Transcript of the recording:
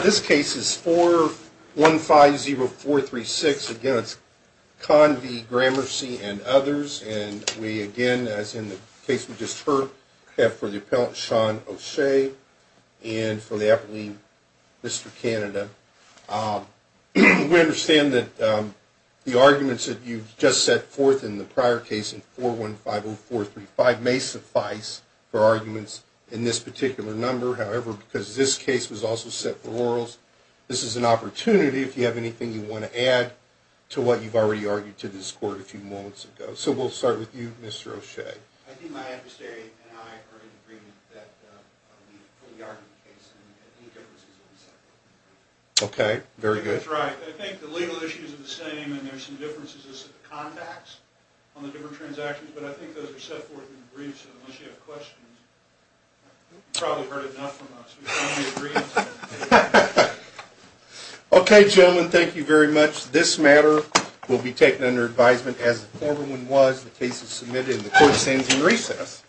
This case is 4150436 against Convy, Gramercy, and others. And we again, as in the case we just heard, have for the appellant, Sean O'Shea, and for the appellee, Mr. Canada. We understand that the arguments that you just set forth in the prior case in 4150435 may suffice for arguments in this particular number. However, because this case was also set for Orals, this is an opportunity, if you have anything you want to add, to what you've already argued to this court a few moments ago. So we'll start with you, Mr. O'Shea. I think my adversary and I are in agreement that we fully argue the case and that any differences will be set forth in the briefs. Okay. Very good. That's right. I think the legal issues are the same and there are some differences in the contacts on the different transactions. Okay, gentlemen. Thank you very much. This matter will be taken under advisement as the former one was. The case is submitted and the court stands in recess.